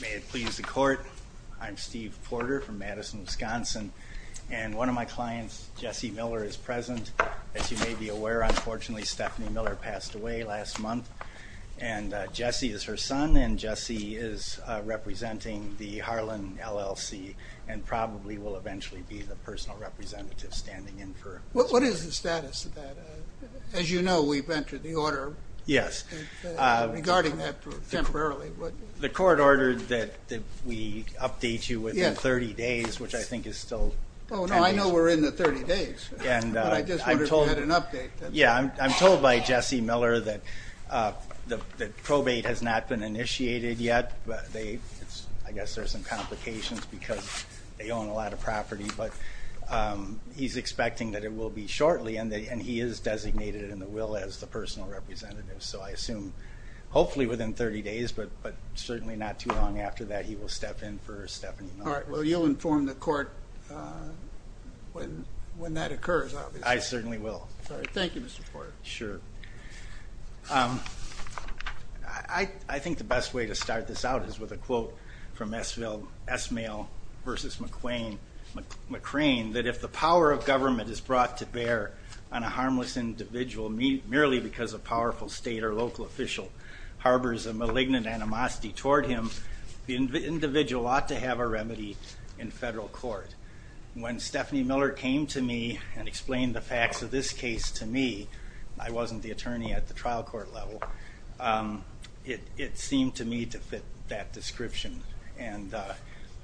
May it please the court, I'm Steve Porter from Madison, Wisconsin, and one of my clients, Jesse Miller, is present. As you may be aware, unfortunately, Stephanie Miller passed away last month, and Jesse is her son, and Jesse is representing the Harlan LLC, and probably will eventually be the personal representative standing in for her. What is the status of that? As you know, we've entered the order. Yes. Regarding that temporarily. The court ordered that we update you within 30 days, which I think is still... Oh, no, I know we're in the 30 days, but I just wondered if you had an update. Yeah, I'm told by Jesse Miller that probate has not been initiated yet. I guess there's some complications because they own a lot of property, but he's expecting that it will be shortly, and he is designated in the will as the personal representative. So I assume, hopefully within 30 days, but certainly not too long after that, he will step in for Stephanie Miller. All right. Well, you'll inform the court when that occurs, obviously. I certainly will. All right. Thank you, Mr. Porter. Sure. I think the best way to start this out is with a quote from Esmail versus McRane, that if the power of government is brought to bear on a harmless individual, merely because a powerful state or local official harbors a malignant animosity toward him, the individual ought to have a remedy in federal court. When Stephanie Miller came to me and explained the facts of this case to me, I wasn't the attorney at the trial court level, it seemed to me to fit that description,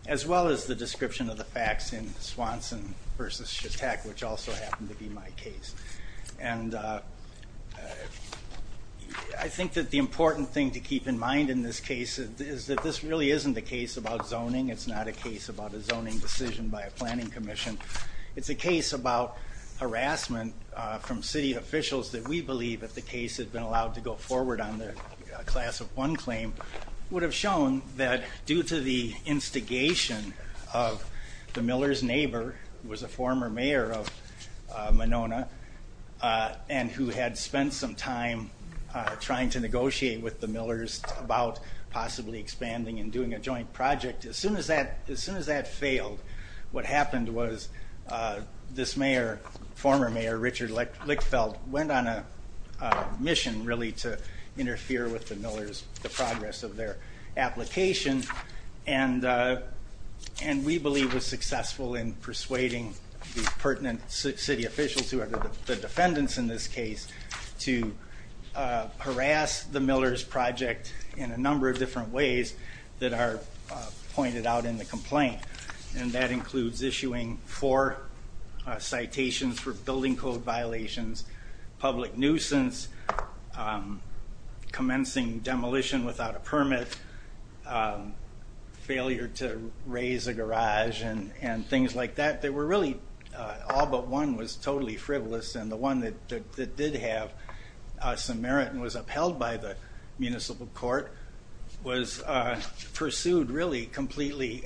as well as the description of the facts in Swanson versus Shattuck, which also happened to be my case. And I think that the important thing to keep in mind in this case is that this really isn't a case about zoning. It's not a case about a zoning decision by a planning commission. It's a case about harassment from city officials that we believe, if the case had been allowed to go forward on the class of one claim, would have shown that due to the instigation of the Miller's neighbor, who was a former mayor of Monona and who had spent some time trying to negotiate with the Millers about possibly expanding and doing a joint project, as soon as that failed, what happened was this former mayor, Richard Lickfeld, went on a mission, really, to interfere with the Millers, the progress of their application, and we believe was successful in persuading the pertinent city officials, who are the defendants in this case, to harass the Millers project in a number of different ways that are pointed out in the complaint. And that includes issuing four citations for building code violations, public nuisance, commencing demolition without a permit, failure to raise a garage, and things like that. They were really, all but one was totally frivolous, and the one that did have some merit and was upheld by the municipal court was pursued, really, completely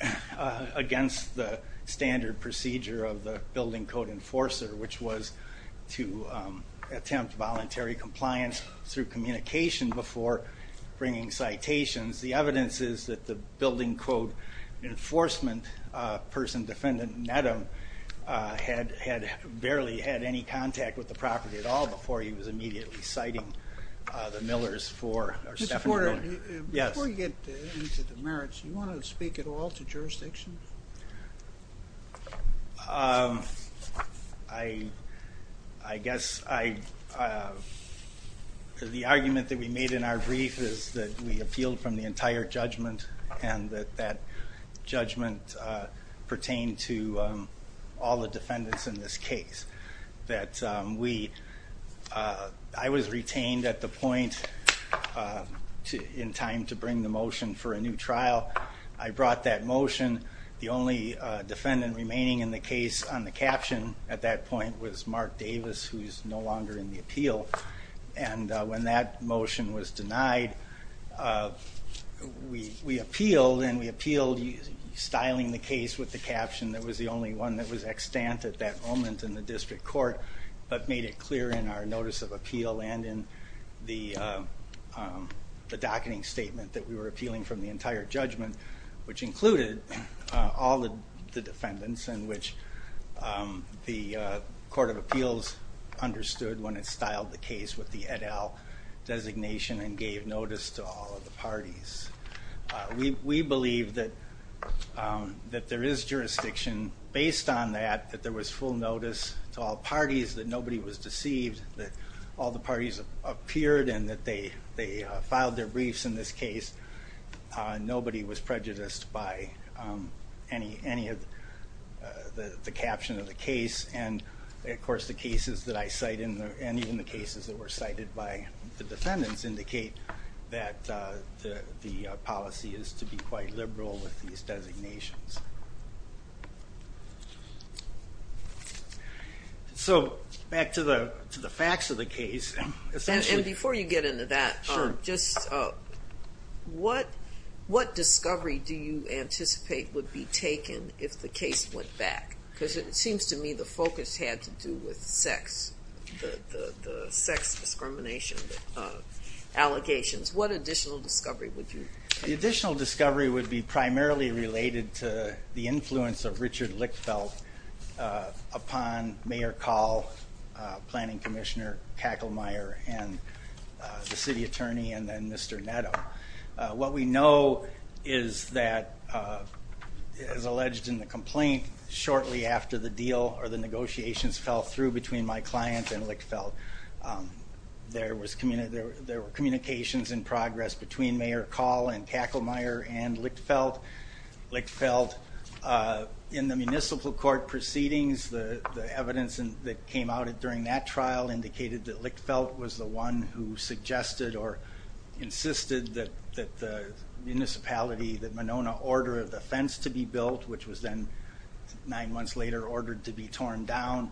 against the standard procedure of the building code enforcer, which was to attempt voluntary compliance through communication before bringing citations. The evidence is that the building code enforcement person, defendant Nedham, had barely had any contact with the property at all before he was immediately citing the Millers for Mr. Porter, before you get into the merits, do you want to speak at all to jurisdiction? I guess the argument that we made in our brief is that we appealed from the entire judgment and that that judgment pertained to all the defendants in this case. I was retained at the point in time to bring the motion for a new trial. I brought that motion. The only defendant remaining in the case on the caption at that point was Mark Davis, who is no longer in the appeal. When that motion was denied, we appealed, and we appealed styling the case with the caption that was the only one that was extant at that moment in the district court, but made it clear in our notice of appeal and in the docketing statement that we were appealing from the entire judgment, which included all the defendants and which the court of appeals understood when it styled the case with the et al. designation and gave notice to all of the parties. We believe that there is jurisdiction based on that, that there was full notice to all parties, that nobody was deceived, that all the parties appeared and that they filed their briefs in this case. Nobody was prejudiced by any of the caption of the case. Of course, the cases that I cite and even the cases that were cited by the defendants indicate that the policy is to be quite liberal with these designations. Back to the facts of the case. Before you get into that, what discovery do you anticipate would be taken if the case went back? Because it seems to me the focus had to do with sex, the sex discrimination allegations. What additional discovery would you make? The additional discovery would be primarily related to the influence of Richard Lickfeldt upon Mayor Call, Planning Commissioner Kackelmeyer, the City Attorney, and then Mr. Netto. What we know is that, as alleged in the complaint, shortly after the deal or the negotiations fell through between my client and Lickfeldt, there were communications in progress between Mayor Call and Kackelmeyer and Lickfeldt. Lickfeldt, in the municipal court proceedings, the evidence that came out during that trial indicated that Lickfeldt was the one who suggested or insisted that the municipality, that Monona, order the fence to be built, which was then nine months later ordered to be torn down.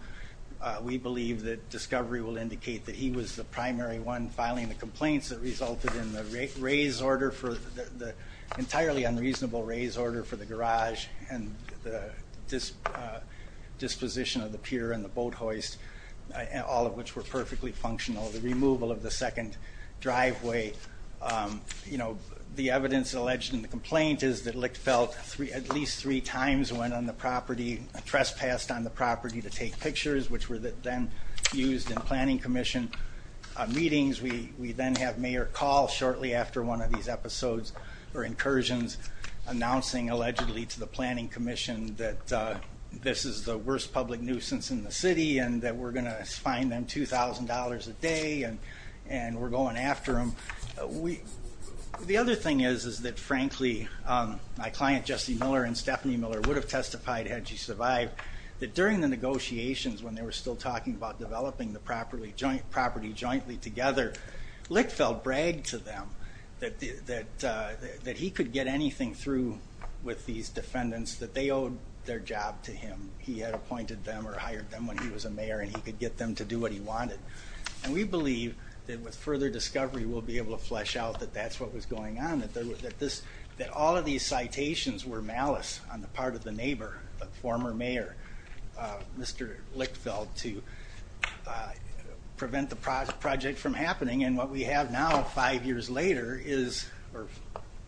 We believe that discovery will indicate that he was the primary one filing the complaints that resulted in the entirely unreasonable raise order for the garage and the disposition of the pier and the boat hoist, all of which were perfectly functional, the removal of the second driveway. The evidence alleged in the complaint is that Lickfeldt at least three times went on the property, trespassed on the property to take pictures, which were then used in Planning Commission meetings. We then have Mayor Call shortly after one of these episodes or incursions announcing allegedly to the Planning Commission that this is the worst public nuisance in the city and that we're going to fine them $2,000 a day and we're going after them. The other thing is that, frankly, my client Jesse Miller and Stephanie Miller would have testified, had she survived, that during the negotiations when they were still talking about developing the property jointly together, Lickfeldt bragged to them that he could get anything through with these defendants that they owed their job to him. He had appointed them or hired them when he was a mayor and he could get them to do what he wanted. And we believe that with further discovery we'll be able to flesh out that that's what was going on, that all of these citations were malice on the part of the neighbor, the former mayor, Mr. Lickfeldt, to prevent the project from happening. And what we have now, five years later, or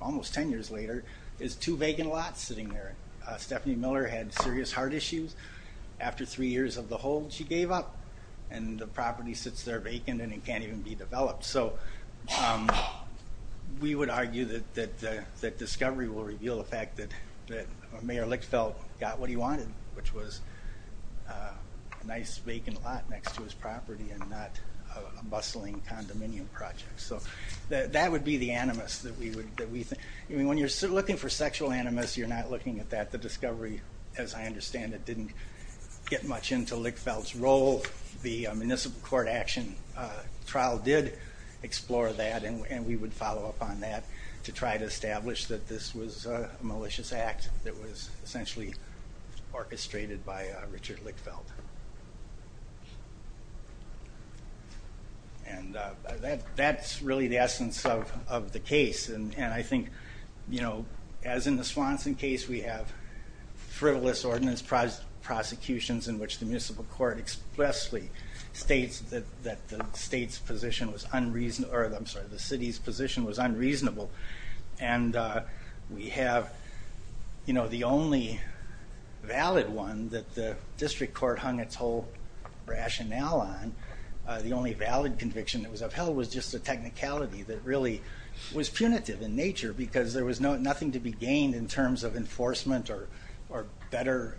almost ten years later, is two vacant lots sitting there. Stephanie Miller had serious heart issues. After three years of the hold she gave up and the property sits there vacant and it can't even be developed. So we would argue that discovery will reveal the fact that Mayor Lickfeldt got what he wanted, which was a nice vacant lot next to his property and not a bustling condominium project. So that would be the animus that we think. When you're looking for sexual animus, you're not looking at that. The discovery, as I understand it, didn't get much into Lickfeldt's role. The municipal court action trial did explore that and we would follow up on that to try to establish that this was a malicious act that was essentially orchestrated by Richard Lickfeldt. And that's really the essence of the case. And I think, as in the Swanson case, we have frivolous ordinance prosecutions in which the municipal court expressly states that the city's position was unreasonable. And we have the only valid one that the district court hung its whole rationale on, the only valid conviction that was upheld was just a technicality that really was punitive in nature because there was nothing to be gained in terms of enforcement or better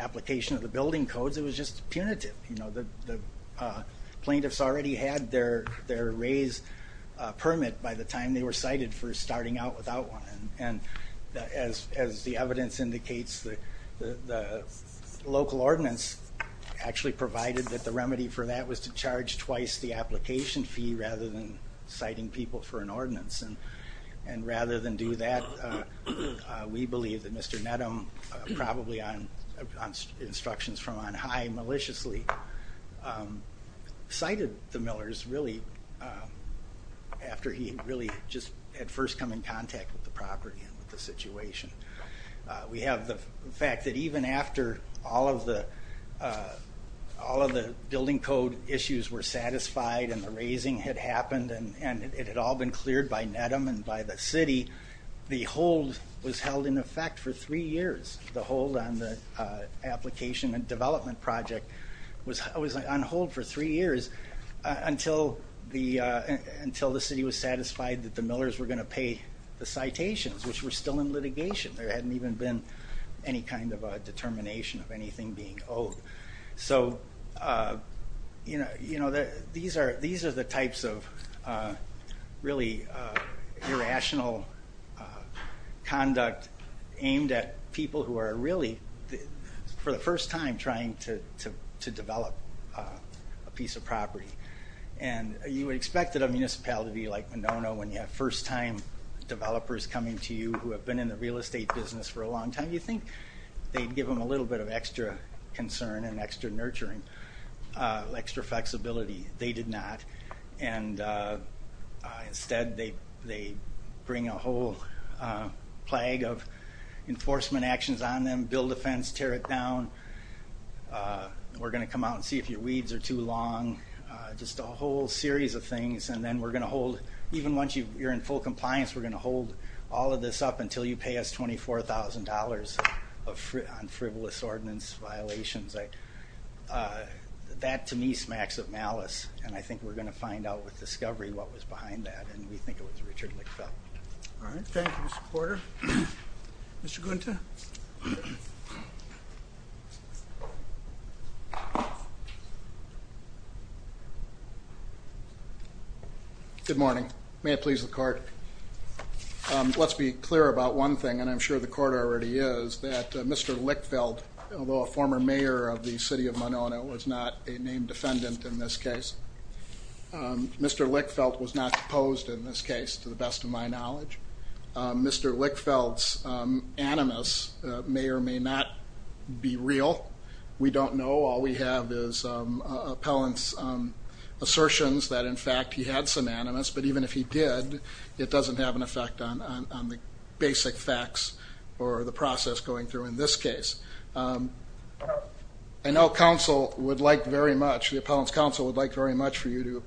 application of the building codes. It was just punitive. The plaintiffs already had their raise permit by the time they were cited for starting out without one. And as the evidence indicates, the local ordinance actually provided that the remedy for that was to charge twice the application fee rather than citing people for an ordinance. And rather than do that, we believe that Mr. Nedham, probably on instructions from on high maliciously, cited the Millers really after he had really just at first come in contact with the property and the situation. We have the fact that even after all of the building code issues were satisfied and the raising had happened and it had all been cleared by Nedham and by the city, the hold was held in effect for three years. The hold on the application and development project was on hold for three years until the city was satisfied that the Millers were going to pay the citations, which were still in litigation. There hadn't even been any kind of a determination of anything being owed. So, you know, these are the types of really irrational conduct aimed at people who are really, for the first time, trying to develop a piece of property. And you would expect that a municipality like Monono, when you have first-time developers coming to you who have been in the real estate business for a long time, you think they'd give them a little bit of extra concern and extra nurturing, extra flexibility. They did not. And instead they bring a whole plague of enforcement actions on them, build a fence, tear it down. We're going to come out and see if your weeds are too long, just a whole series of things. And then we're going to hold, even once you're in full compliance, we're going to hold all of this up until you pay us $24,000 on frivolous ordinance violations. That, to me, smacks of malice. And I think we're going to find out with discovery what was behind that. And we think it was Richard Lickfeldt. All right. Thank you, Mr. Porter. Mr. Gunther? Good morning. May it please the Court. Let's be clear about one thing, and I'm sure the Court already is, that Mr. Lickfeldt, although a former mayor of the city of Monono, was not a named defendant in this case. Mr. Lickfeldt was not deposed in this case, to the best of my knowledge. Mr. Lickfeldt's animus may or may not be real. We don't know. All we have is appellant's assertions that, in fact, he had some animus. But even if he did, it doesn't have an effect on the basic facts or the process going through in this case. I know counsel would like very much, the appellant's counsel would like very much for you to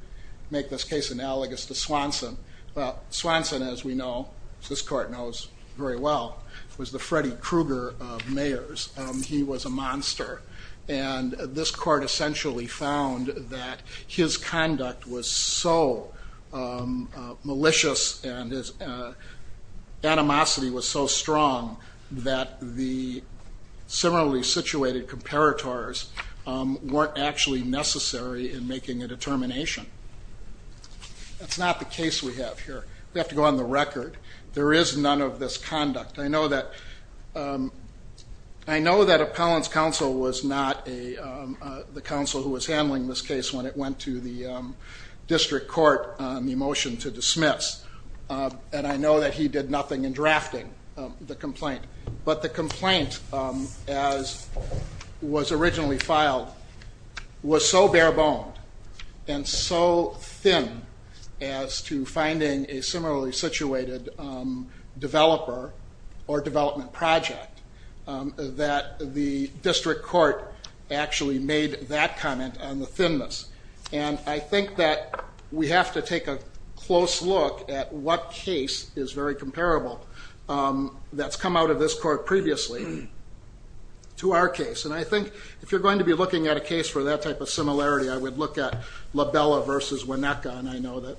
make this case analogous to Swanson. Well, Swanson, as we know, as this Court knows very well, was the Freddy Krueger of mayors. He was a monster. And this Court essentially found that his conduct was so malicious and his animosity was so strong that the similarly situated comparators weren't actually necessary in making a determination. That's not the case we have here. We have to go on the record. There is none of this conduct. I know that appellant's counsel was not the counsel who was handling this case when it went to the district court on the motion to dismiss. And I know that he did nothing in drafting the complaint. But the complaint, as was originally filed, was so bare boned and so thin as to finding a similarly situated developer or development project that the district court actually made that comment on the thinness. And I think that we have to take a close look at what case is very comparable that's come out of this Court previously to our case. And I think if you're going to be looking at a case for that type of similarity, I would look at LaBella v. Weneka. And I know that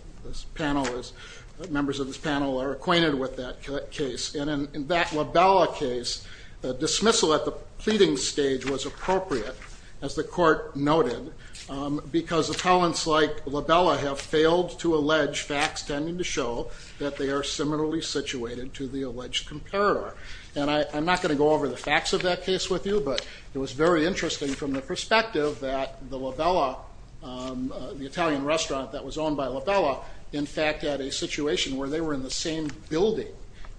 members of this panel are acquainted with that case. And in that LaBella case, dismissal at the pleading stage was appropriate, as the Court noted, because appellants like LaBella have failed to allege facts tending to show that they are similarly situated to the alleged comparator. And I'm not going to go over the facts of that case with you. But it was very interesting from the perspective that the LaBella, the Italian restaurant that was owned by LaBella, in fact had a situation where they were in the same building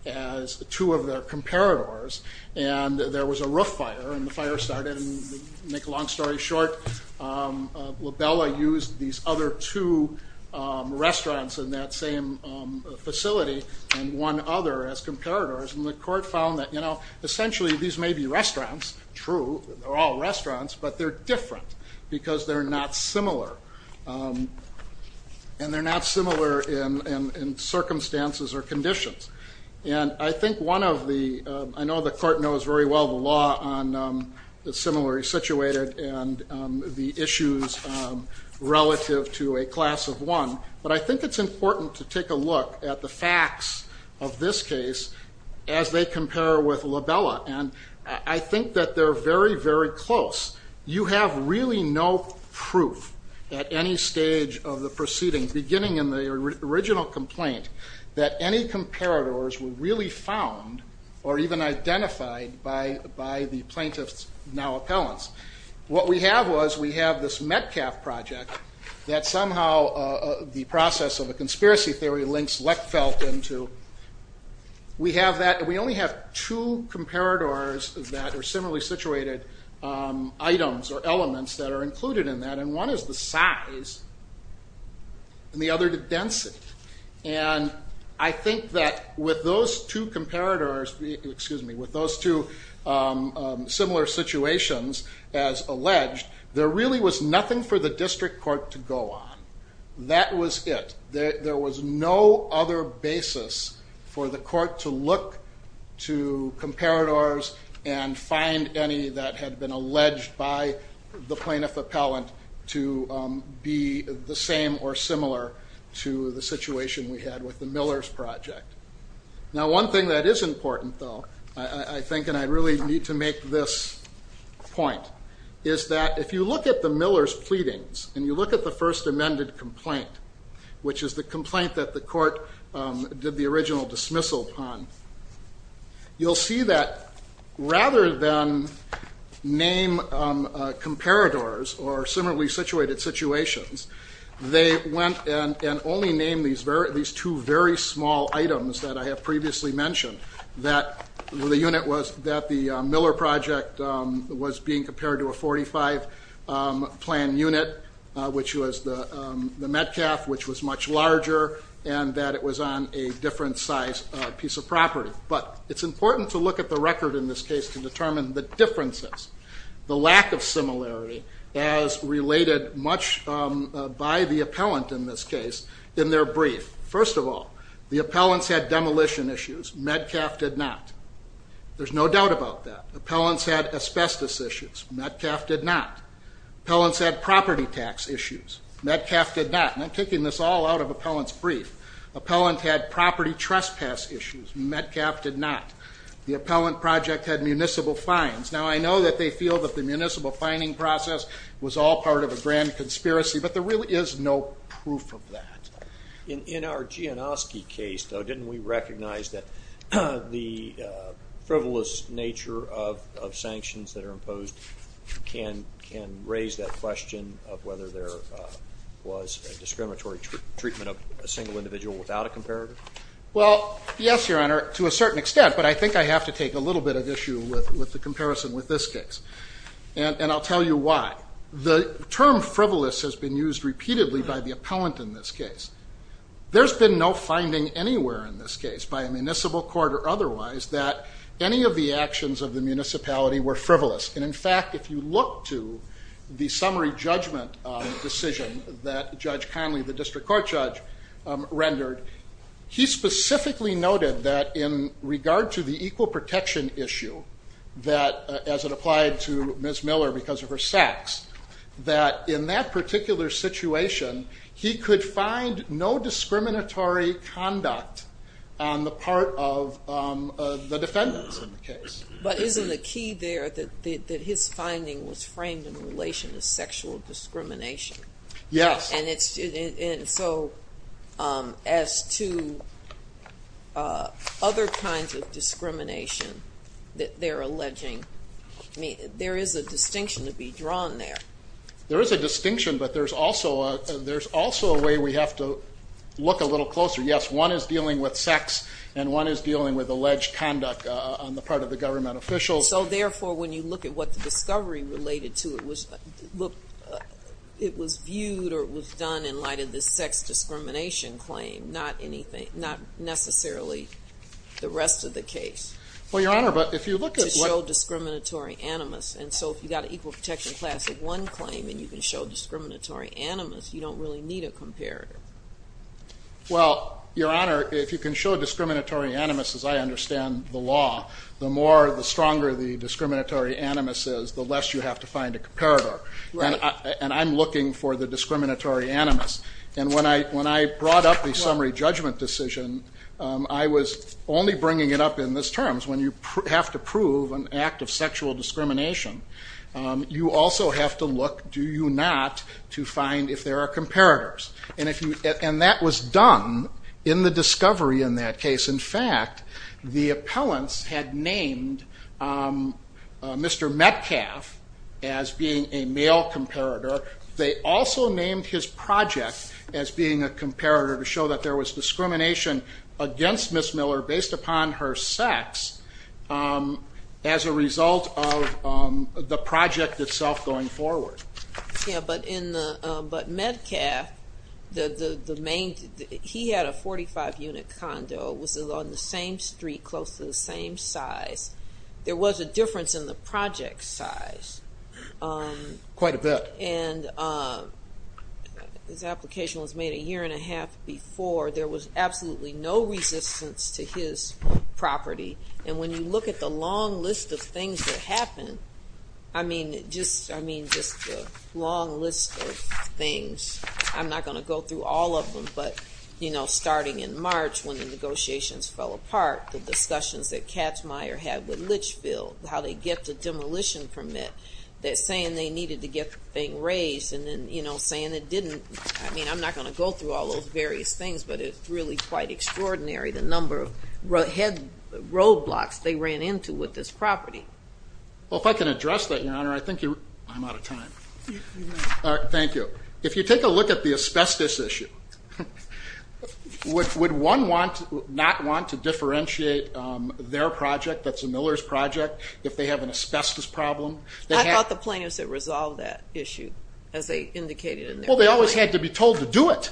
as two of their comparators. And there was a roof fire, and the fire started. And to make a long story short, LaBella used these other two restaurants in that same facility and one other as comparators. And the Court found that, you know, essentially these may be restaurants, true, they're all restaurants, but they're different because they're not similar. And they're not similar in circumstances or conditions. And I think one of the ‑‑ I know the Court knows very well the law on the similarly situated and the issues relative to a class of one. But I think it's important to take a look at the facts of this case as they compare with LaBella. And I think that they're very, very close. You have really no proof at any stage of the proceeding, beginning in the original complaint, that any comparators were really found or even identified by the plaintiffs, now appellants. What we have was we have this Metcalf project that somehow the process of a conspiracy theory links Lechfeldt into. We have that. We only have two comparators that are similarly situated items or elements that are included in that. And one is the size and the other the density. And I think that with those two comparators, excuse me, with those two similar situations as alleged, there really was nothing for the district court to go on. That was it. There was no other basis for the court to look to comparators and find any that had been alleged by the plaintiff appellant to be the same or similar to the situation we had with the Millers project. Now, one thing that is important, though, I think, and I really need to make this point, is that if you look at the Millers pleadings and you look at the first amended complaint, which is the complaint that the court did the original dismissal upon, you'll see that rather than name comparators or similarly situated situations, they went and only named these two very small items that I have previously mentioned, that the Miller project was being compared to a 45 plan unit, which was the Metcalf, which was much larger and that it was on a different size piece of property. But it's important to look at the record in this case to determine the differences, the lack of similarity as related much by the appellant in this case in their brief. First of all, the appellants had demolition issues. Metcalf did not. There's no doubt about that. Appellants had asbestos issues. Metcalf did not. Appellants had property tax issues. Metcalf did not. And I'm taking this all out of appellant's brief. Appellant had property trespass issues. Metcalf did not. The appellant project had municipal fines. Now, I know that they feel that the municipal fining process was all part of a grand conspiracy, but there really is no proof of that. In our Gianoski case, though, didn't we recognize that the frivolous nature of sanctions that are imposed can raise that question of whether there was a discriminatory treatment of a single individual without a comparator? Well, yes, Your Honor, to a certain extent. But I think I have to take a little bit of issue with the comparison with this case. And I'll tell you why. The term frivolous has been used repeatedly by the appellant in this case. There's been no finding anywhere in this case, by a municipal court or otherwise, that any of the actions of the municipality were frivolous. And, in fact, if you look to the summary judgment decision that Judge Conley, the district court judge, rendered, he specifically noted that in regard to the equal protection issue that, as it applied to Ms. Miller because of her sex, that in that particular situation, he could find no discriminatory conduct on the part of the defendants in the case. But isn't the key there that his finding was framed in relation to sexual discrimination? Yes. And so as to other kinds of discrimination that they're alleging, there is a distinction to be drawn there. There is a distinction, but there's also a way we have to look a little closer. Yes, one is dealing with sex and one is dealing with alleged conduct on the part of the government officials. So, therefore, when you look at what the discovery related to, it was viewed or it was done in light of the sex discrimination claim, not necessarily the rest of the case. Well, Your Honor, but if you look at what – To show discriminatory animus. And so if you've got an equal protection class of one claim and you can show discriminatory animus, you don't really need a comparative. Well, Your Honor, if you can show discriminatory animus, as I understand the law, the more, the stronger the discriminatory animus is, the less you have to find a comparator. Right. And I'm looking for the discriminatory animus. And when I brought up the summary judgment decision, I was only bringing it up in this terms. When you have to prove an act of sexual discrimination, you also have to look, do you not, to find if there are comparators. And that was done in the discovery in that case. In fact, the appellants had named Mr. Metcalf as being a male comparator. They also named his project as being a comparator to show that there was discrimination against Ms. Miller based upon her sex as a result of the project itself going forward. Yeah, but Metcalf, the main, he had a 45-unit condo. It was on the same street, close to the same size. There was a difference in the project size. Quite a bit. And his application was made a year and a half before. There was absolutely no resistance to his property. And when you look at the long list of things that happened, I mean, just the long list of things, I'm not going to go through all of them, but, you know, starting in March when the negotiations fell apart, the discussions that Katzmeier had with Litchfield, how they get the demolition permit, saying they needed to get the thing raised and then, you know, saying it didn't. I mean, I'm not going to go through all those various things, but it's really quite extraordinary the number of roadblocks they ran into with this property. Well, if I can address that, Your Honor, I think you're, I'm out of time. All right, thank you. If you take a look at the asbestos issue, would one not want to differentiate their project that's a Miller's project, if they have an asbestos problem? I thought the plaintiffs had resolved that issue, as they indicated. Well, they always had to be told to do it.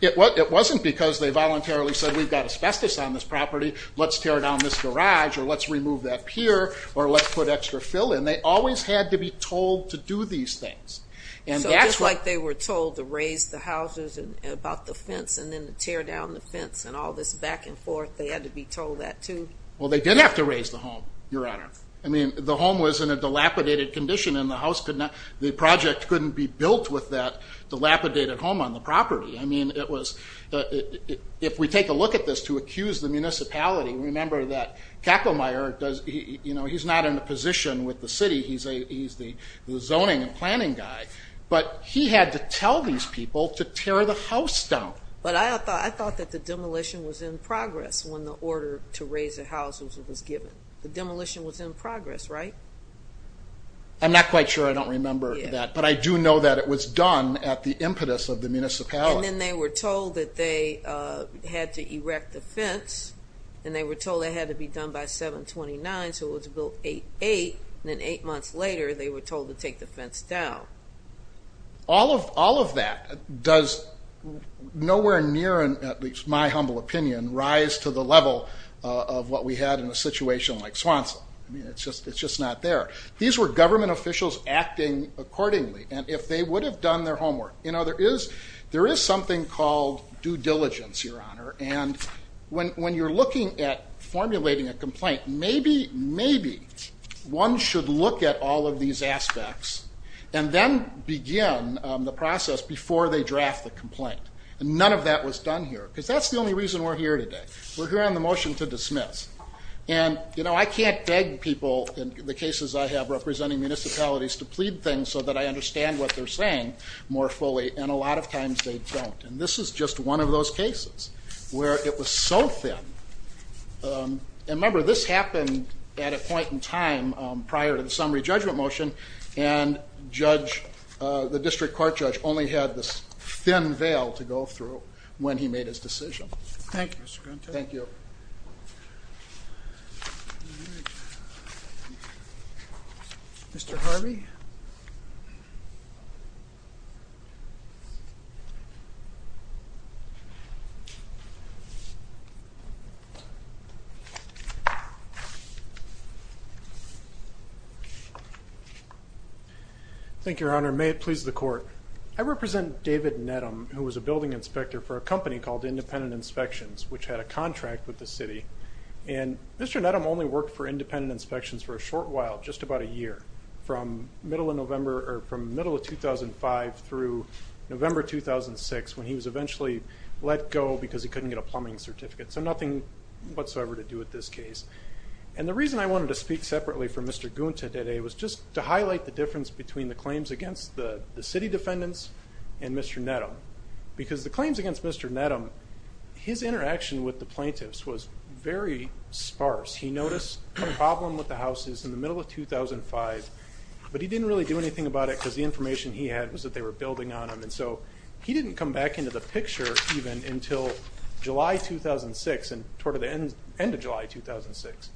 It wasn't because they voluntarily said, we've got asbestos on this property, let's tear down this garage or let's remove that pier or let's put extra fill in. They always had to be told to do these things. So just like they were told to raise the houses about the fence and then to tear down the fence and all this back and forth, they had to be told that too? Well, they did have to raise the home, Your Honor. I mean, the home was in a dilapidated condition and the house could not, the project couldn't be built with that dilapidated home on the property. I mean, it was, if we take a look at this to accuse the municipality, remember that Kacklemeyer does, you know, he's not in a position with the city. He's the zoning and planning guy. But he had to tell these people to tear the house down. But I thought that the demolition was in progress when the order to raise the houses was given. The demolition was in progress, right? I'm not quite sure. I don't remember that. But I do know that it was done at the impetus of the municipality. And then they were told that they had to erect the fence and they were told it had to be done by 7-29, so it was built 8-8, and then eight months later they were told to take the fence down. All of that does nowhere near, at least in my humble opinion, rise to the level of what we had in a situation like Swanson. I mean, it's just not there. These were government officials acting accordingly, and if they would have done their homework. You know, there is something called due diligence, Your Honor, and when you're looking at formulating a complaint, maybe one should look at all of these aspects and then begin the process before they draft the complaint. None of that was done here because that's the only reason we're here today. We're here on the motion to dismiss. And, you know, I can't beg people in the cases I have representing municipalities to plead things so that I understand what they're saying more fully, and a lot of times they don't. And this is just one of those cases where it was so thin. And remember, this happened at a point in time prior to the summary judgment motion, and the district court judge only had this thin veil to go through when he made his decision. Thank you. Mr. Harvey. Thank you, Your Honor. May it please the court. I represent David Nedham, who was a building inspector for a company called Independent Inspections, which had a contract with the city. And Mr. Nedham only worked for Independent Inspections for a short while, just about a year, from the middle of 2005 through November 2006, when he was eventually let go because he couldn't get a plumbing certificate. So nothing whatsoever to do with this case. And the reason I wanted to speak separately from Mr. Guinta today was just to because the claims against Mr. Nedham, his interaction with the plaintiffs was very sparse. He noticed a problem with the houses in the middle of 2005, but he didn't really do anything about it because the information he had was that they were building on them. And so he didn't come back into the picture even until July 2006, toward the end of July 2006.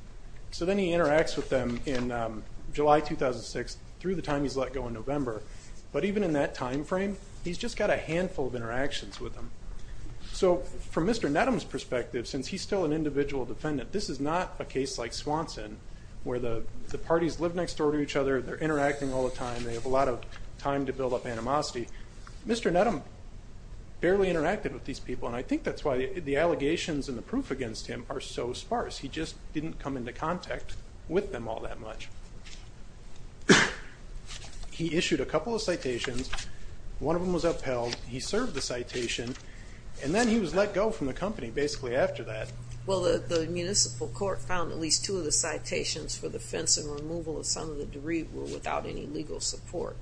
So then he interacts with them in July 2006 through the time he's let go in November. But even in that time frame, he's just got a handful of interactions with them. So from Mr. Nedham's perspective, since he's still an individual defendant, this is not a case like Swanson, where the parties live next door to each other, they're interacting all the time, they have a lot of time to build up animosity. Mr. Nedham barely interacted with these people, and I think that's why the allegations and the proof against him are so sparse. He just didn't come into contact with them all that much. He issued a couple of citations. One of them was upheld. He served the citation, and then he was let go from the company basically after that. Well, the municipal court found at least two of the citations for the fence and removal of some of the debris were without any legal support.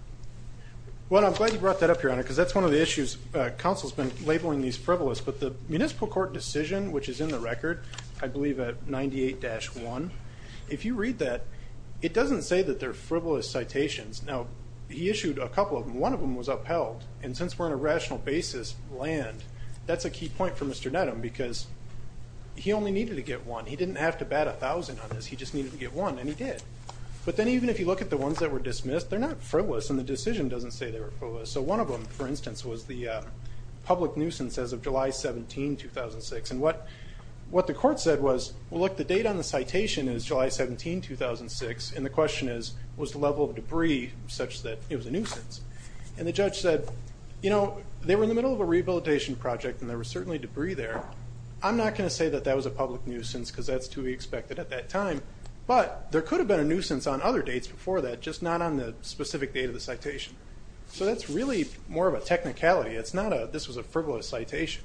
Well, I'm glad you brought that up, Your Honor, because that's one of the issues. Counsel's been labeling these frivolous. But the municipal court decision, which is in the record, I believe at 98-1, if you read that, it doesn't say that they're frivolous citations. Now, he issued a couple of them. One of them was upheld, and since we're on a rational basis, land, that's a key point for Mr. Nedham because he only needed to get one. He didn't have to bat 1,000 on this. He just needed to get one, and he did. But then even if you look at the ones that were dismissed, they're not frivolous, and the decision doesn't say they were frivolous. So one of them, for instance, was the public nuisance as of July 17, 2006. And what the court said was, well, look, the date on the citation is July 17, 2006, and the question is, was the level of debris such that it was a nuisance? And the judge said, you know, they were in the middle of a rehabilitation project and there was certainly debris there. I'm not going to say that that was a public nuisance because that's to be expected at that time. But there could have been a nuisance on other dates before that, just not on the specific date of the citation. So that's really more of a technicality. It's not a, this was a frivolous citation.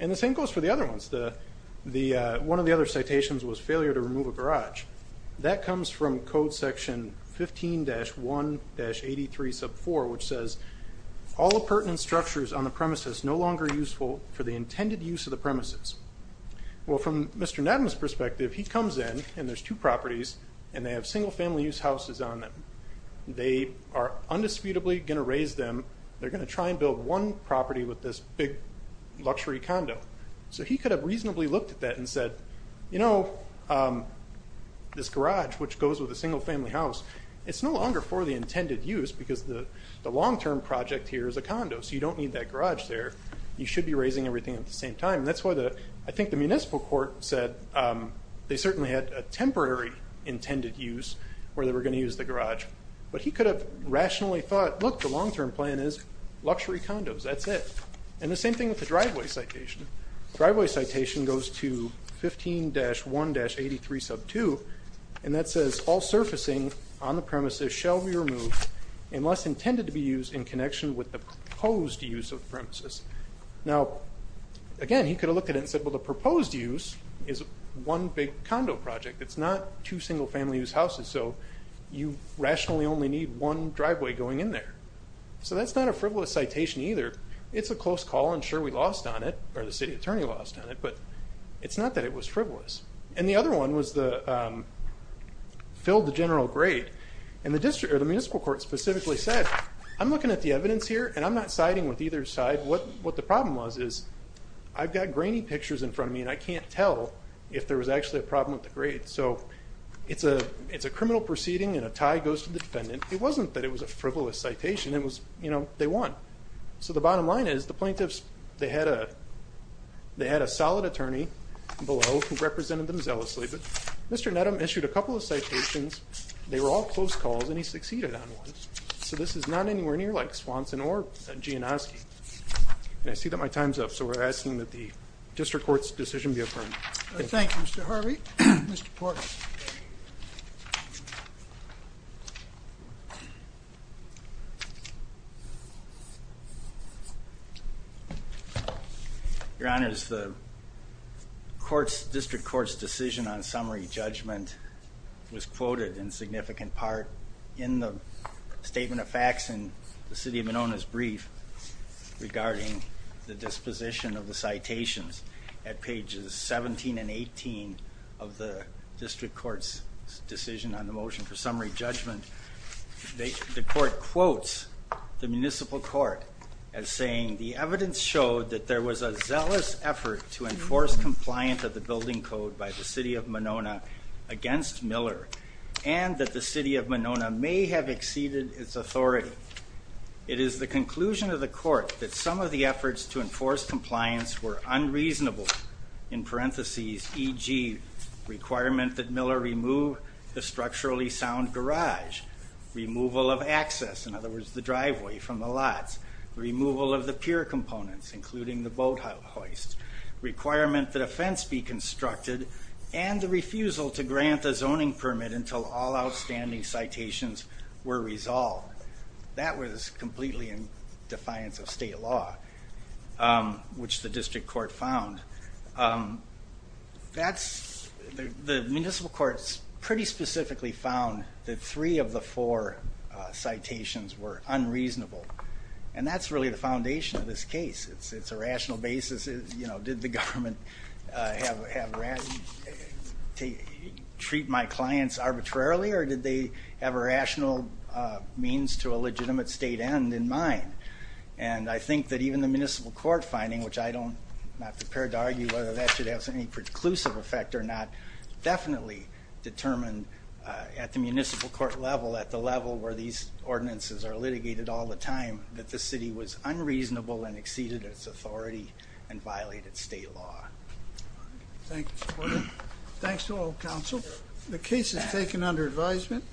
And the same goes for the other ones. One of the other citations was failure to remove a garage. That comes from Code Section 15-1-83 sub 4, which says all appurtenant structures on the premises no longer useful for the intended use of the premises. Well, from Mr. Nattum's perspective, he comes in, and there's two properties, and they have single-family use houses on them. They are undisputably going to raise them. They're going to try and build one property with this big luxury condo. So he could have reasonably looked at that and said, you know, this garage, which goes with a single-family house, it's no longer for the intended use because the long-term project here is a condo, so you don't need that garage there. You should be raising everything at the same time. And that's why I think the municipal court said they certainly had a temporary intended use where they were going to use the garage. But he could have rationally thought, look, the long-term plan is luxury condos, that's it. And the same thing with the driveway citation. The driveway citation goes to 15-1-83 sub 2, and that says all surfacing on the premises shall be removed unless intended to be used in connection with the proposed use of the premises. Now, again, he could have looked at it and said, well, the proposed use is one big condo project. It's not two single-family use houses, so you rationally only need one driveway going in there. So that's not a frivolous citation either. It's a close call, and sure, we lost on it, or the city attorney lost on it, but it's not that it was frivolous. And the other one was the fill the general grade. And the municipal court specifically said, I'm looking at the evidence here, and I'm not siding with either side. What the problem was is I've got grainy pictures in front of me, and I can't tell if there was actually a problem with the grade. So it's a criminal proceeding, and a tie goes to the defendant. It wasn't that it was a frivolous citation. It was, you know, they won. So the bottom line is the plaintiffs, they had a solid attorney below who represented them zealously. But Mr. Nedham issued a couple of citations. They were all close calls, and he succeeded on one. So this is not anywhere near like Swanson or Gianoski. And I see that my time's up, so we're asking that the district court's decision be affirmed. Thank you, Mr. Harvey. Mr. Porter. Your Honors, the district court's decision on summary judgment was quoted in significant part in the statement of facts in the city of Monona's brief regarding the disposition of the citations at pages 17 and 18 of the district court's decision on the motion for summary judgment. The court quotes the municipal court as saying, the evidence showed that there was a zealous effort to enforce compliance of the building code by the city of Monona against Miller, and that the city of Monona may have exceeded its authority. It is the conclusion of the court that some of the efforts to enforce compliance were unreasonable, in parentheses, e.g., requirement that Miller remove the structurally sound garage, removal of access, in other words, the driveway from the lots, removal of the pier components, including the boat hoist, requirement that a fence be constructed, and the refusal to grant a zoning permit until all outstanding citations were resolved. That was completely in defiance of state law, which the district court found. The municipal court pretty specifically found that three of the four citations were unreasonable, and that's really the foundation of this case. It's a rational basis. Did the government treat my clients arbitrarily, or did they have a rational means to a legitimate state end in mind? And I think that even the municipal court finding, which I'm not prepared to argue whether that should have any preclusive effect or not, definitely determined at the municipal court level, at the level where these ordinances are litigated all the time, that the city was unreasonable and exceeded its authority and violated state law. Thank you, Mr. Porter. Thanks to all counsel. The case is taken under advisement.